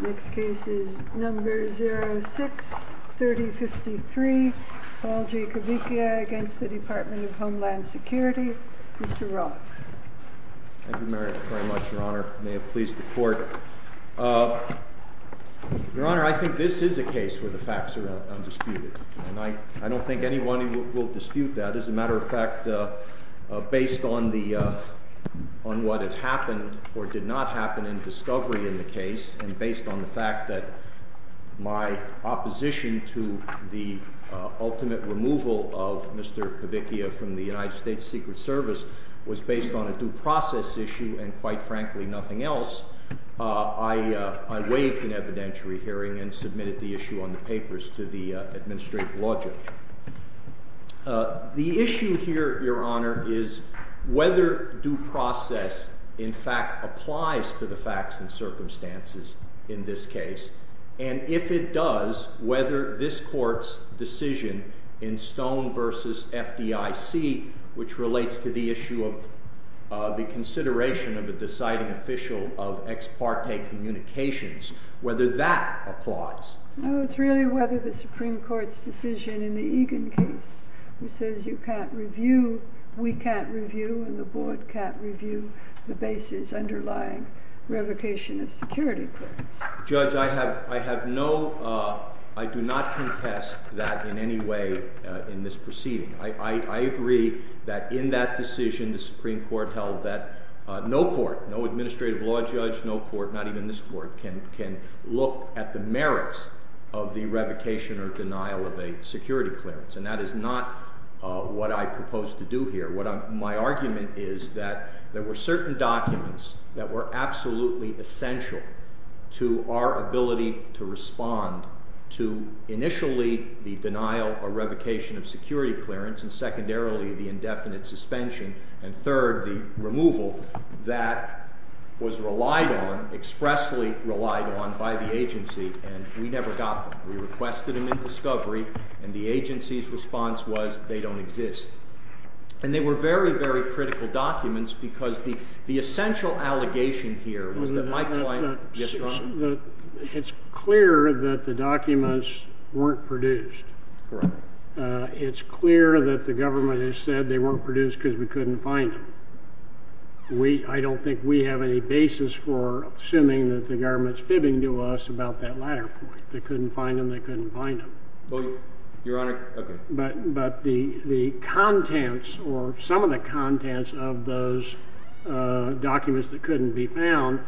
Next case is number 06-3053, Paul G. Cavicchia against the Department of Homeland Security. Mr. Roth. Thank you very much, Your Honor. May it please the Court. Your Honor, I think this is a case where the facts are undisputed, and I don't think anyone will dispute that. As a matter of fact, based on what had happened, or did not happen in discovery in the case, and based on the fact that my opposition to the ultimate removal of Mr. Cavicchia from the United States Secret Service was based on a due process issue and, quite frankly, nothing else, I waived an evidentiary hearing and submitted the issue on the papers to the administrative logic. The issue here, Your Honor, is whether due process in fact applies to the facts and circumstances in this case, and if it does, whether this Court's decision in Stone v. FDIC, which relates to the issue of the consideration of a deciding official of ex parte communications, whether that applies. No, it's really whether the Supreme Court's decision in the Egan case, which says you can't review, we can't review, and the Board can't review the basis underlying revocation of security clearance. Judge, I have no, I do not contest that in any way in this proceeding. I agree that in that decision the Supreme Court held that no court, no administrative law judge, no court, not even this court, can look at the merits of the revocation or denial of a security clearance, and that is not what I propose to do here. My argument is that there were certain documents that were absolutely essential to our ability to respond to initially the denial or revocation of security clearance and secondarily the indefinite suspension and third, the removal that was relied on, expressly relied on by the agency, and we never got them. We requested them in discovery, and the agency's response was they don't exist. And they were very, very critical documents because the essential allegation here was that my client— It's clear that the documents weren't produced. Correct. It's clear that the government has said they weren't produced because we couldn't find them. I don't think we have any basis for assuming that the government's fibbing to us about that latter point. They couldn't find them, they couldn't find them. Your Honor, okay. But the contents or some of the contents of those documents that couldn't be found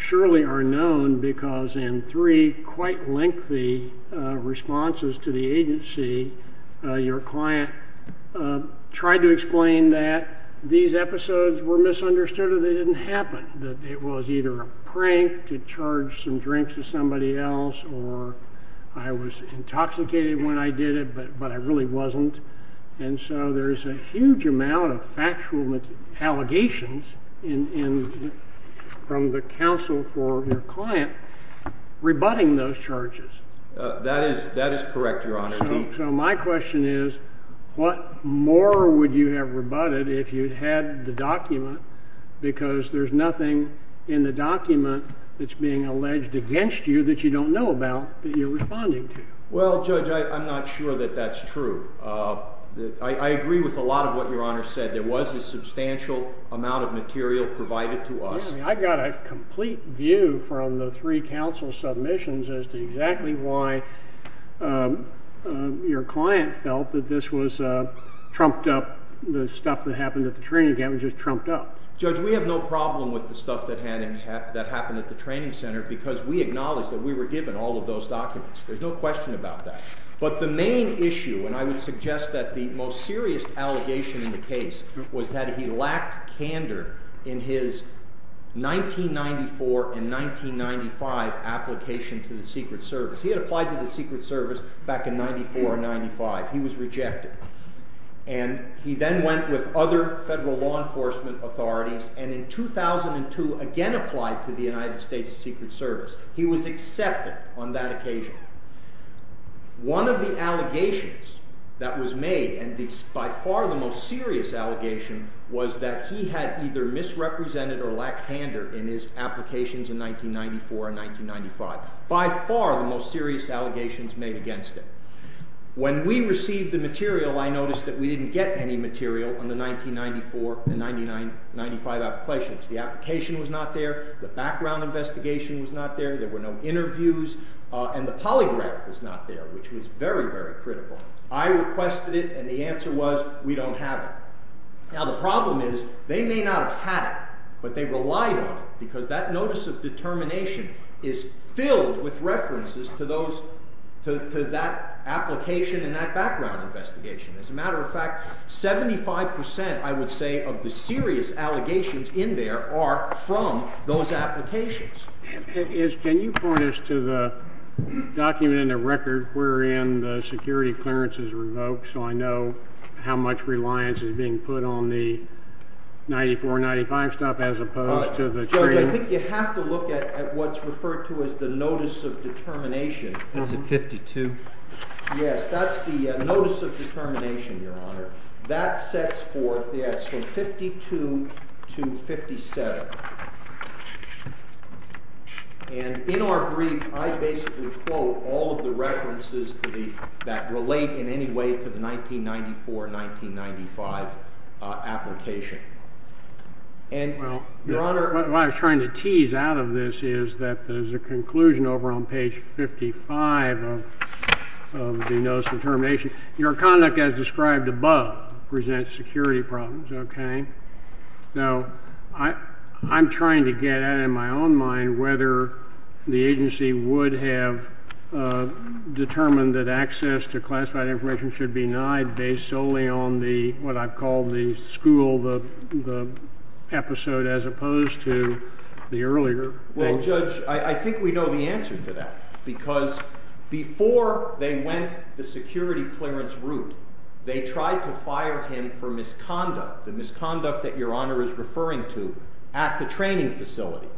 surely are known because in three quite lengthy responses to the agency, your client tried to explain that these episodes were misunderstood or they didn't happen, that it was either a prank to charge some drinks to somebody else or I was intoxicated when I did it but I really wasn't. And so there's a huge amount of factual allegations from the counsel for your client rebutting those charges. That is correct, Your Honor. So my question is what more would you have rebutted if you'd had the document because there's nothing in the document that's being alleged against you that you don't know about that you're responding to? Well, Judge, I'm not sure that that's true. I agree with a lot of what Your Honor said. There was a substantial amount of material provided to us. Yeah, I mean, I got a complete view from the three counsel submissions as to exactly why your client felt that this was trumped up, the stuff that happened at the training camp was just trumped up. Judge, we have no problem with the stuff that happened at the training center because we acknowledge that we were given all of those documents. There's no question about that. But the main issue, and I would suggest that the most serious allegation in the case was that he lacked candor in his 1994 and 1995 application to the Secret Service. He had applied to the Secret Service back in 1994 and 1995. He was rejected. And he then went with other federal law enforcement authorities and in 2002 again applied to the United States Secret Service. He was accepted on that occasion. One of the allegations that was made, and by far the most serious allegation, was that he had either misrepresented or lacked candor in his applications in 1994 and 1995. By far the most serious allegations made against him. When we received the material, I noticed that we didn't get any material on the 1994 and 1995 applications. The application was not there. The background investigation was not there. There were no interviews. And the polygraph was not there, which was very, very critical. I requested it, and the answer was, we don't have it. Now the problem is they may not have had it, but they relied on it because that notice of determination is filled with references to that application and that background investigation. As a matter of fact, 75%, I would say, of the serious allegations in there are from those applications. Can you point us to the document in the record wherein the security clearance is revoked so I know how much reliance is being put on the 1994 and 1995 stuff as opposed to the training? Judge, I think you have to look at what's referred to as the notice of determination. That's in 52. Yes, that's the notice of determination, Your Honor. That sets forth, yes, from 52 to 57. And in our brief, I basically quote all of the references that relate in any way to the 1994-1995 application. Your Honor, what I was trying to tease out of this is that there's a conclusion over on page 55 of the notice of determination. Your conduct as described above presents security problems, okay? Now, I'm trying to get at it in my own mind whether the agency would have determined that access to classified information should be denied based solely on what I've called the school episode as opposed to the earlier. Well, Judge, I think we know the answer to that because before they went the security clearance route, they tried to fire him for misconduct, the misconduct that Your Honor is referring to at the training facility.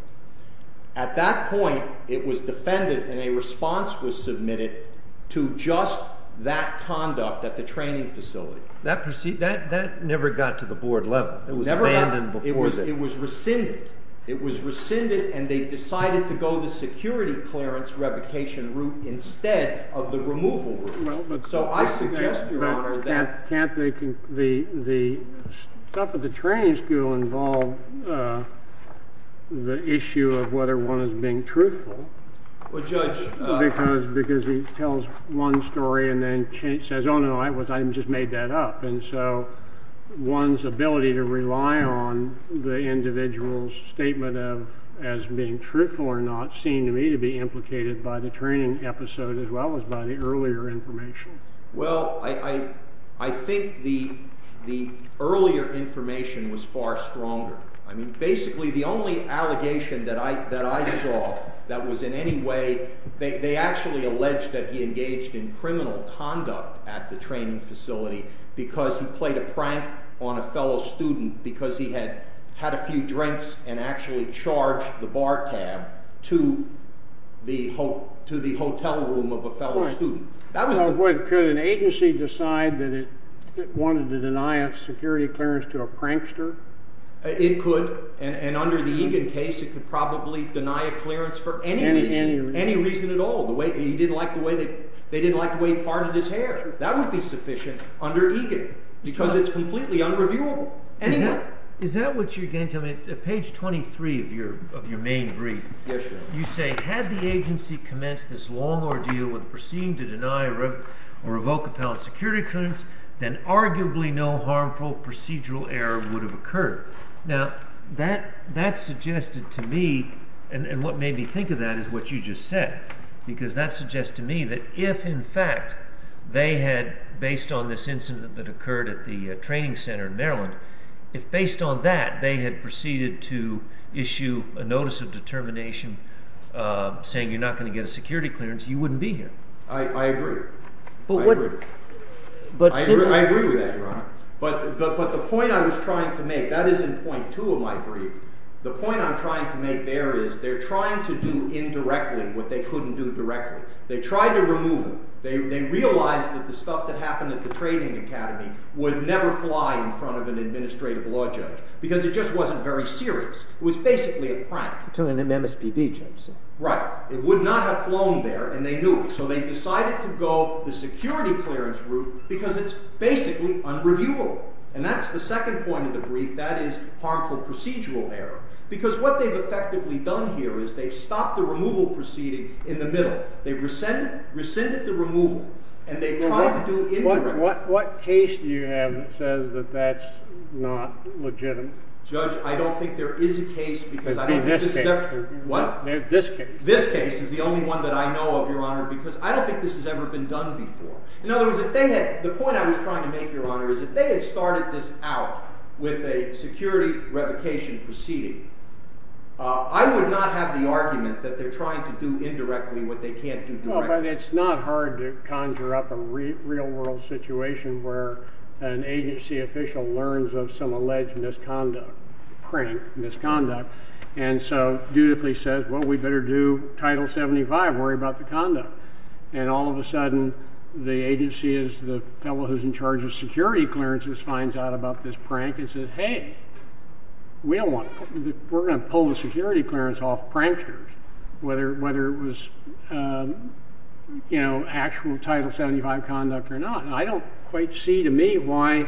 At that point, it was defended and a response was submitted to just that conduct at the training facility. That never got to the board level. It was rescinded. It was rescinded, and they decided to go the security clearance revocation route instead of the removal route. So I suggest, Your Honor, that... But can't the stuff at the training school involve the issue of whether one is being truthful? Well, Judge... Because he tells one story and then says, oh, no, I just made that up. And so one's ability to rely on the individual's statement of as being truthful or not seemed to me to be implicated by the training episode as well as by the earlier information. Well, I think the earlier information was far stronger. I mean, basically the only allegation that I saw that was in any way... They actually alleged that he engaged in criminal conduct at the training facility because he played a prank on a fellow student because he had had a few drinks and actually charged the bar tab to the hotel room of a fellow student. Could an agency decide that it wanted to deny a security clearance to a prankster? It could, and under the Egan case, it could probably deny a clearance for any reason at all. They didn't like the way he parted his hair. That would be sufficient under Egan because it's completely unreviewable anyway. Is that what you're getting to? I mean, at page 23 of your main brief, you say, had the agency commenced this long ordeal with proceeding to deny or revoke a fellow's security clearance, then arguably no harmful procedural error would have occurred. Now, that suggested to me, and what made me think of that is what you just said, because that suggests to me that if in fact they had, based on this incident that occurred at the training center in Maryland, if based on that they had proceeded to issue a notice of determination saying you're not going to get a security clearance, you wouldn't be here. I agree. I agree with that, Your Honor. But the point I was trying to make, that is in point two of my brief, the point I'm trying to make there is they're trying to do indirectly what they couldn't do directly. They tried to remove him. They realized that the stuff that happened at the training academy would never fly in front of an administrative law judge because it just wasn't very serious. It was basically a prank. To an MSPB judge, sir. Right. It would not have flown there, and they knew it. So they decided to go the security clearance route because it's basically unreviewable. And that's the second point of the brief. That is harmful procedural error because what they've effectively done here is they've stopped the removal proceeding in the middle. They've rescinded the removal, and they've tried to do it indirectly. What case do you have that says that that's not legitimate? Judge, I don't think there is a case because I don't think this is ever— This case. What? This case. This case is the only one that I know of, Your Honor, because I don't think this has ever been done before. In other words, the point I was trying to make, Your Honor, is if they had started this out with a security revocation proceeding, I would not have the argument that they're trying to do indirectly what they can't do directly. Well, but it's not hard to conjure up a real-world situation where an agency official learns of some alleged misconduct, prank, misconduct, and so dutifully says, well, we better do Title 75 and worry about the conduct. And all of a sudden, the agency is the fellow who's in charge of security clearances finds out about this prank and says, hey, we're going to pull the security clearance off pranksters, whether it was actual Title 75 conduct or not. I don't quite see, to me, why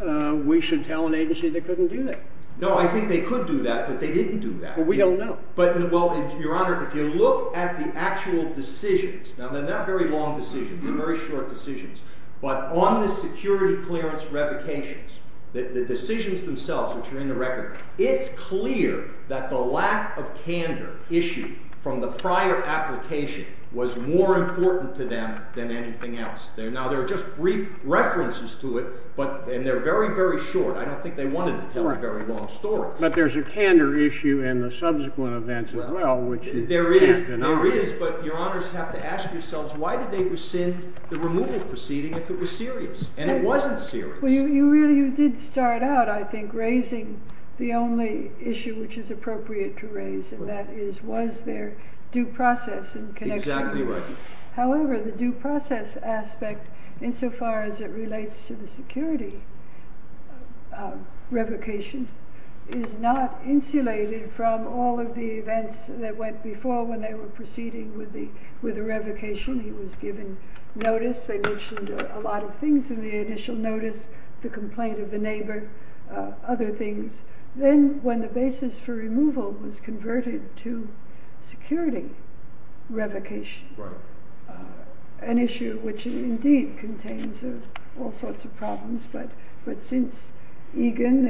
we should tell an agency they couldn't do that. No, I think they could do that, but they didn't do that. Well, we don't know. But, well, Your Honor, if you look at the actual decisions, now they're not very long decisions, they're very short decisions, but on the security clearance revocations, the decisions themselves, which are in the record, it's clear that the lack of candor issued from the prior application was more important to them than anything else. Now, there are just brief references to it, and they're very, very short. I don't think they wanted to tell a very long story. But there's a candor issue in the subsequent events as well. There is, but Your Honors have to ask yourselves, why did they rescind the removal proceeding if it was serious? And it wasn't serious. Well, you really did start out, I think, raising the only issue which is appropriate to raise, and that is, was there due process in connection with this? However, the due process aspect, insofar as it relates to the security revocation, is not insulated from all of the events that went before when they were proceeding with the revocation. He was given notice. They mentioned a lot of things in the initial notice, the complaint of the neighbor, other things. Then, when the basis for removal was converted to security revocation, an issue which indeed contains all sorts of problems. But since Egan,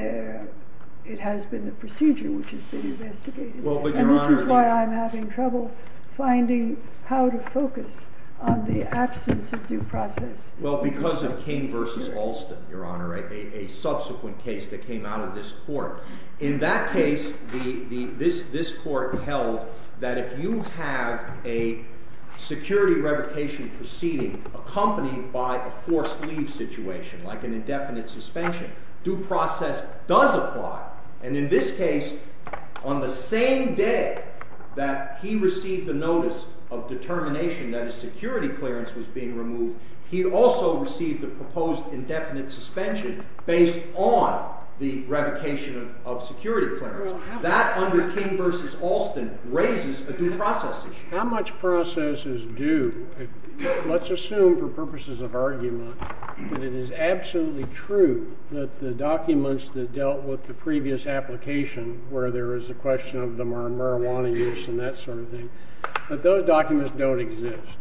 it has been the procedure which has been investigated. And this is why I'm having trouble finding how to focus on the absence of due process. Well, because of King v. Alston, Your Honor, a subsequent case that came out of this court. In that case, this court held that if you have a security revocation proceeding accompanied by a forced leave situation, like an indefinite suspension, due process does apply. And in this case, on the same day that he received the notice of determination that a security clearance was being removed, he also received a proposed indefinite suspension based on the revocation of security clearance. That, under King v. Alston, raises a due process issue. How much process is due? Let's assume, for purposes of argument, that it is absolutely true that the documents that dealt with the previous application, where there is a question of the marijuana use and that sort of thing, that those documents don't exist.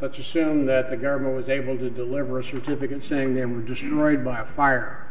Let's assume that the government was able to deliver a certificate saying they were destroyed by a fire.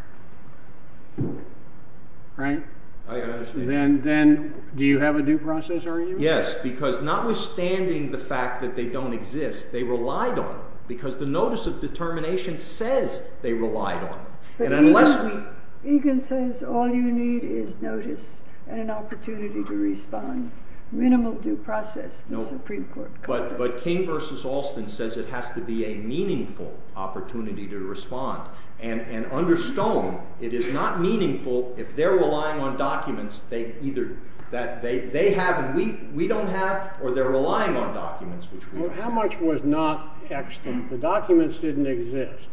Right? Then, do you have a due process argument? Yes, because notwithstanding the fact that they don't exist, they relied on them. Because the notice of determination says they relied on them. But Egan says all you need is notice and an opportunity to respond. Minimal due process, the Supreme Court concluded. But King v. Alston says it has to be a meaningful opportunity to respond and understone it is not meaningful if they're relying on documents that they have and we don't have or they're relying on documents which we have. How much was not extant? The documents didn't exist.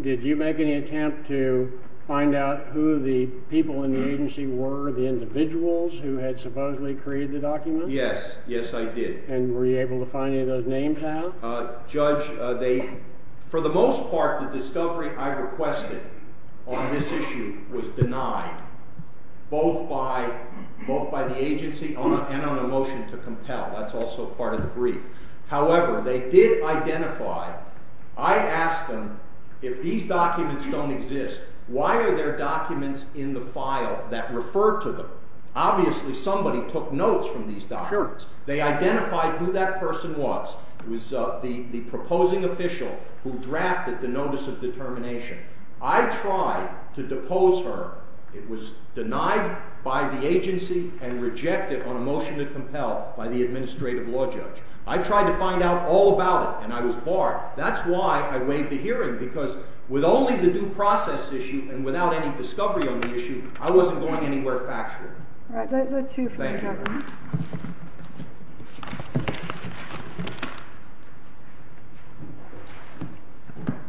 Did you make any attempt to find out who the people in the agency were, the individuals who had supposedly created the documents? Yes. Yes, I did. And were you able to find any of those names out? Judge, they... For the most part, the discovery I requested on this issue was denied, both by the agency and on a motion to compel. That's also part of the brief. However, they did identify... I asked them, if these documents don't exist, why are there documents in the file that refer to them? Obviously, somebody took notes from these documents. They identified who that person was. It was the proposing official who drafted the Notice of Determination. I tried to depose her. It was denied by the agency and rejected on a motion to compel by the administrative law judge. I tried to find out all about it, and I was barred. That's why I waived the hearing, because with only the due process issue and without any discovery on the issue, I wasn't going anywhere factually. All right. Thank you for your time.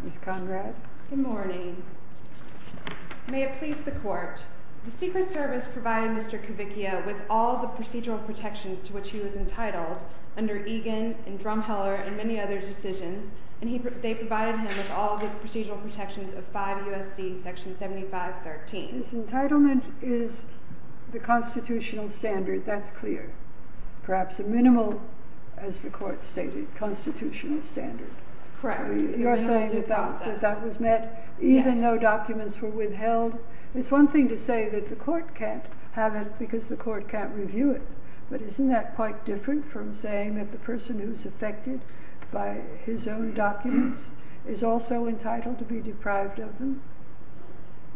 Ms. Conrad? Good morning. May it please the Court, the Secret Service provided Mr. Kavickia with all the procedural protections to which he was entitled under Egan and Drumheller and many other decisions, and they provided him with all the procedural protections of 5 U.S.C. 7513. His entitlement is the constitutional standard. That's clear. Perhaps a minimal, as the Court stated, constitutional standard. Correct. You're saying that that was met even though documents were withheld? It's one thing to say that the Court can't have it because the Court can't review it, but isn't that quite different from saying that the person who's affected by his own documents is also entitled to be deprived of them?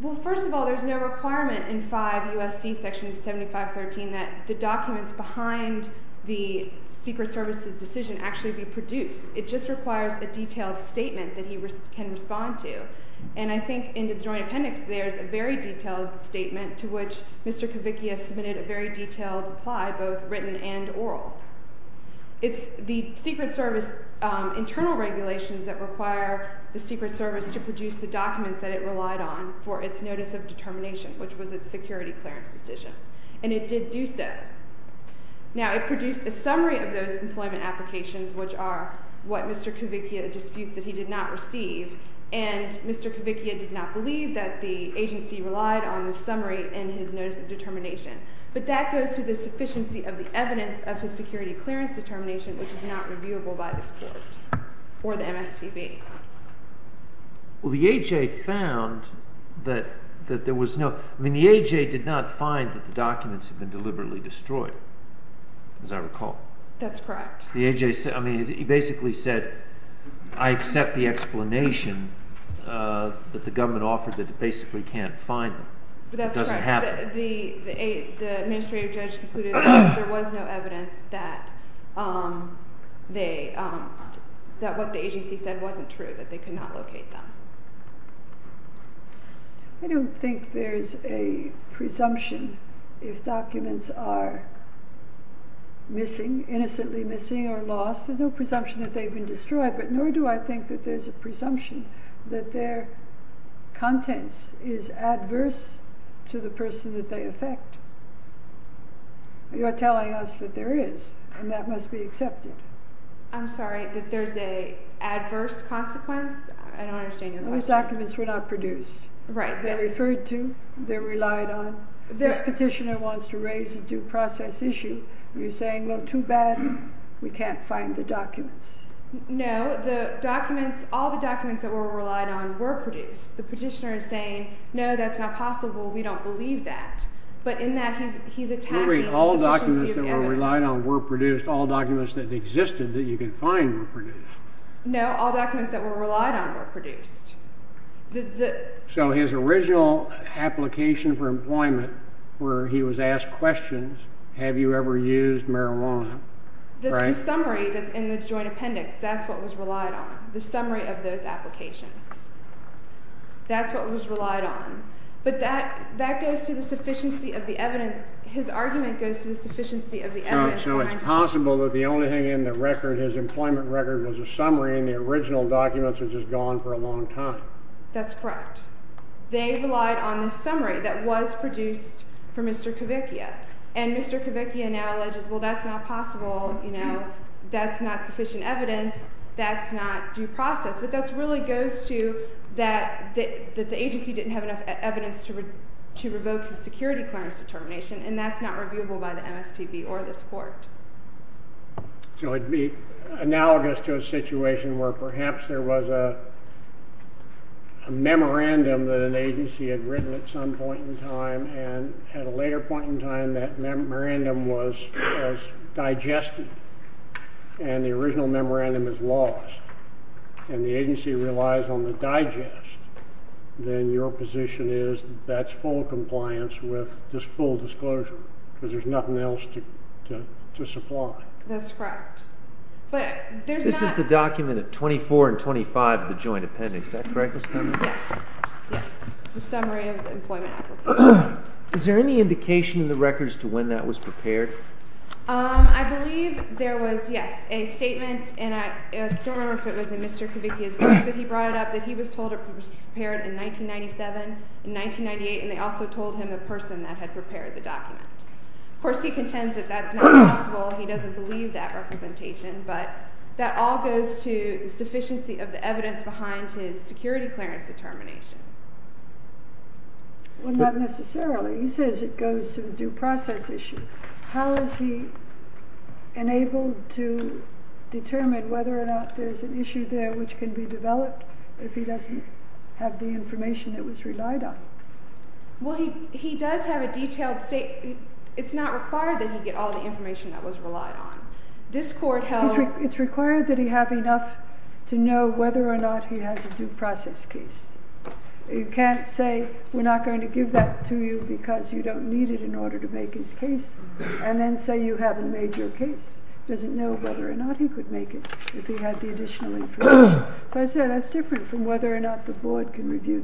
Well, first of all, there's no requirement in 5 U.S.C. 7513 that the documents behind the Secret Service's decision actually be produced. It just requires a detailed statement that he can respond to, and I think in the Joint Appendix there's a very detailed statement to which Mr. Kavickia submitted a very detailed reply, both written and oral. It's the Secret Service internal regulations that require the Secret Service to produce the documents that it relied on for its notice of determination, which was its security clearance decision, and it did do so. Now, it produced a summary of those employment applications, which are what Mr. Kavickia disputes that he did not receive, and Mr. Kavickia does not believe that the agency relied on this summary in his notice of determination, but that goes to the sufficiency of the evidence of his security clearance determination, which is not reviewable by this Court or the MSPB. Well, the A.J. found that there was no... I mean, the A.J. did not find that the documents had been deliberately destroyed, as I recall. That's correct. The A.J. basically said, I accept the explanation that the government offered that it basically can't find them. That's correct. The administrative judge concluded that there was no evidence that what the agency said wasn't true, that they could not locate them. I don't think there's a presumption if documents are missing, innocently missing or lost. There's no presumption that they've been destroyed, but nor do I think that there's a presumption that their contents is adverse to the person that they affect. You're telling us that there is, and that must be accepted. I'm sorry, that there's an adverse consequence? I don't understand your question. Those documents were not produced. Right. They're referred to. They're relied on. This petitioner wants to raise a due process issue. You're saying, well, too bad. We can't find the documents. No, the documents, all the documents that were relied on were produced. The petitioner is saying, no, that's not possible. We don't believe that. All documents that were relied on were produced. All documents that existed that you can find were produced. No, all documents that were relied on were produced. So his original application for employment where he was asked questions, have you ever used marijuana? The summary that's in the joint appendix, that's what was relied on, the summary of those applications. That's what was relied on. But that goes to the sufficiency of the evidence. His argument goes to the sufficiency of the evidence. So it's possible that the only thing in the record, his employment record was a summary, and the original documents were just gone for a long time. That's correct. They relied on the summary that was produced for Mr. Kavickia. And Mr. Kavickia now alleges, well, that's not possible. That's not sufficient evidence. That's not due process. But that really goes to that the agency didn't have enough evidence to revoke his security clearance determination, and that's not reviewable by the MSPB or this court. So it would be analogous to a situation where perhaps there was a memorandum that an agency had written at some point in time, and at a later point in time, that memorandum was digested, and the original memorandum is lost, and the agency relies on the digest, then your position is that that's full compliance with this full disclosure, because there's nothing else to supply. That's correct. But there's not... This is the document of 24 and 25 of the joint appendix. Is that correct, Ms. Turner? Yes, yes. The summary of employment applications. Is there any indication in the records to when that was prepared? I believe there was, yes, a statement, and I don't remember if it was in Mr. Kavickia's book that he brought it up, that he was told it was prepared in 1997, in 1998, and they also told him the person that had prepared the document. Of course, he contends that that's not possible. He doesn't believe that representation, but that all goes to the sufficiency of the evidence behind his security clearance determination. Well, not necessarily. He says it goes to the due process issue. How is he enabled to determine whether or not there's an issue there which can be developed if he doesn't have the information that was relied on? Well, he does have a detailed statement. It's not required that he get all the information that was relied on. This court held... It's required that he have enough to know whether or not he has a due process case. You can't say, we're not going to give that to you because you don't need it in order to make his case, and then say you haven't made your case. He doesn't know whether or not he could make it if he had the additional information. So I say that's different from whether or not the board can review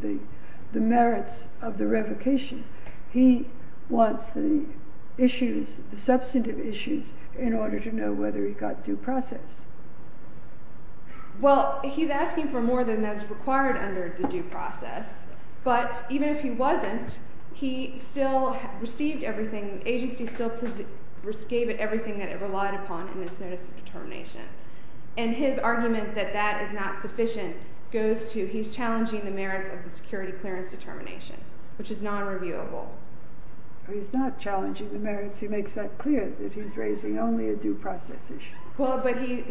the merits of the revocation. He wants the issues, the substantive issues, in order to know whether he got due process. Well, he's asking for more than that's required under the due process, but even if he wasn't, he still received everything. The agency still gave it everything that it relied upon in its notice of determination. And his argument that that is not sufficient goes to he's challenging the merits of the security clearance determination, which is non-reviewable. He's not challenging the merits. He makes that clear that he's raising only a due process issue. Well, but he...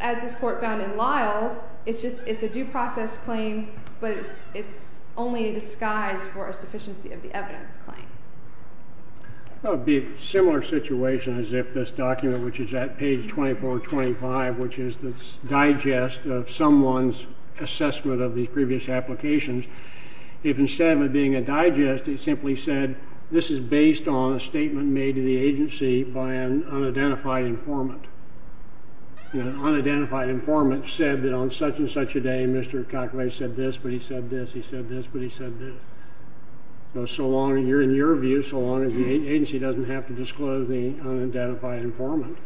As this court found in Lyles, it's a due process claim, but it's only a disguise for a sufficiency of the evidence claim. It would be a similar situation as if this document, which is at page 2425, which is the digest of someone's assessment of these previous applications, if instead of it being a digest, it simply said, this is based on a statement made to the agency by an unidentified informant. An unidentified informant said that on such-and-such a day, Mr. Cocklay said this, but he said this, he said this, but he said this. So long, in your view, so long as the agency doesn't have to disclose to the unidentified informant.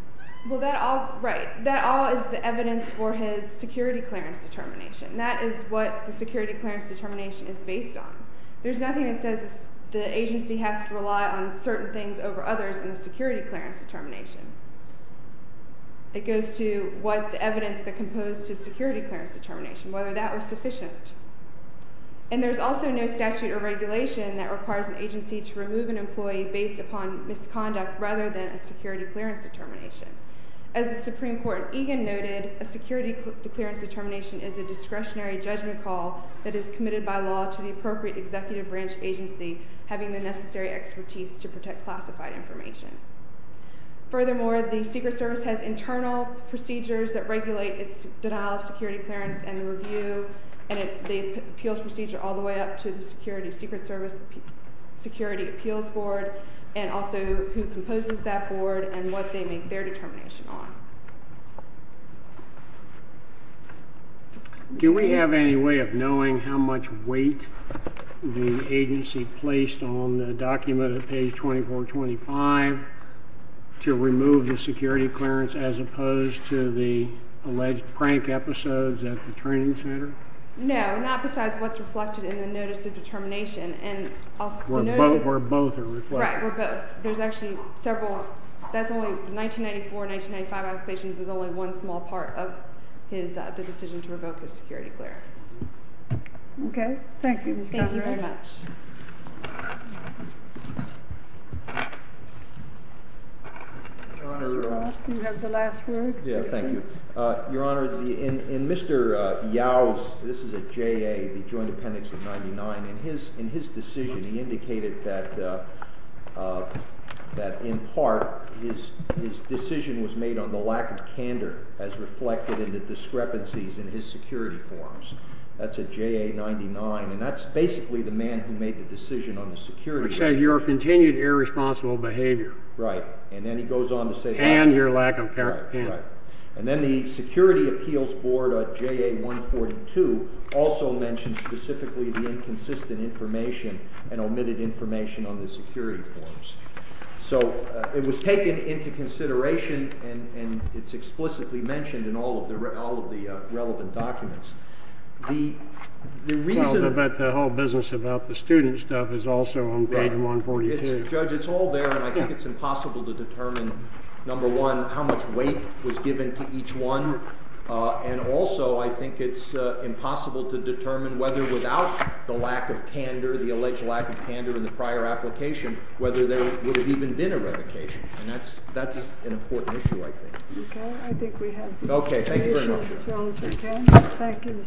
Well, that all... Right. That all is the evidence for his security clearance determination. That is what the security clearance determination is based on. There's nothing that says the agency has to rely on certain things over others in the security clearance determination. It goes to what the evidence that composed his security clearance determination, whether that was sufficient. And there's also no statute or regulation that requires an agency to remove an employee based upon misconduct rather than a security clearance determination. As the Supreme Court in Egan noted, a security clearance determination is a discretionary judgment call that is committed by law to the appropriate executive branch agency having the necessary expertise to protect classified information. Furthermore, the Secret Service has internal procedures that regulate its denial of security clearance and the review and the appeals procedure all the way up to Security Appeals Board and also who composes that board and what they make their determination on. Do we have any way of knowing how much weight the agency placed on the document at page 2425 to remove the security clearance as opposed to the alleged prank episodes at the training center? No, not besides what's reflected in the Notice of Determination. Where both are reflected. Right, where both. There's actually several. That's only 1994-1995 applications is only one small part of the decision to revoke the security clearance. Okay, thank you. Thank you very much. Mr. Roth, you have the last word. Yeah, thank you. Your Honor, in Mr. Yao's this is a JA, the Joint Appendix of 99, in his decision he indicated that in part his decision was made on the lack of candor as reflected in the discrepancies in his security forms. That's a JA-99 and that's basically the man who made the decision on the security. Which says your continued irresponsible behavior. Right. And then he goes on to say and your lack of candor. And then the Security Appeals Board JA-142 also mentions specifically the inconsistent information and omitted information on the security forms. So, it was taken into consideration and it's explicitly mentioned in all of the relevant documents. The reason... The whole business about the student stuff is also on page 142. Judge, it's all there and I think it's impossible to determine number one how much weight was given to each one and also I think it's impossible to determine whether without the lack of candor the alleged lack of candor in the prior application whether there would have even been a revocation. And that's an important issue I think. Okay. I think we have... Okay. Thank you very much. Thank you.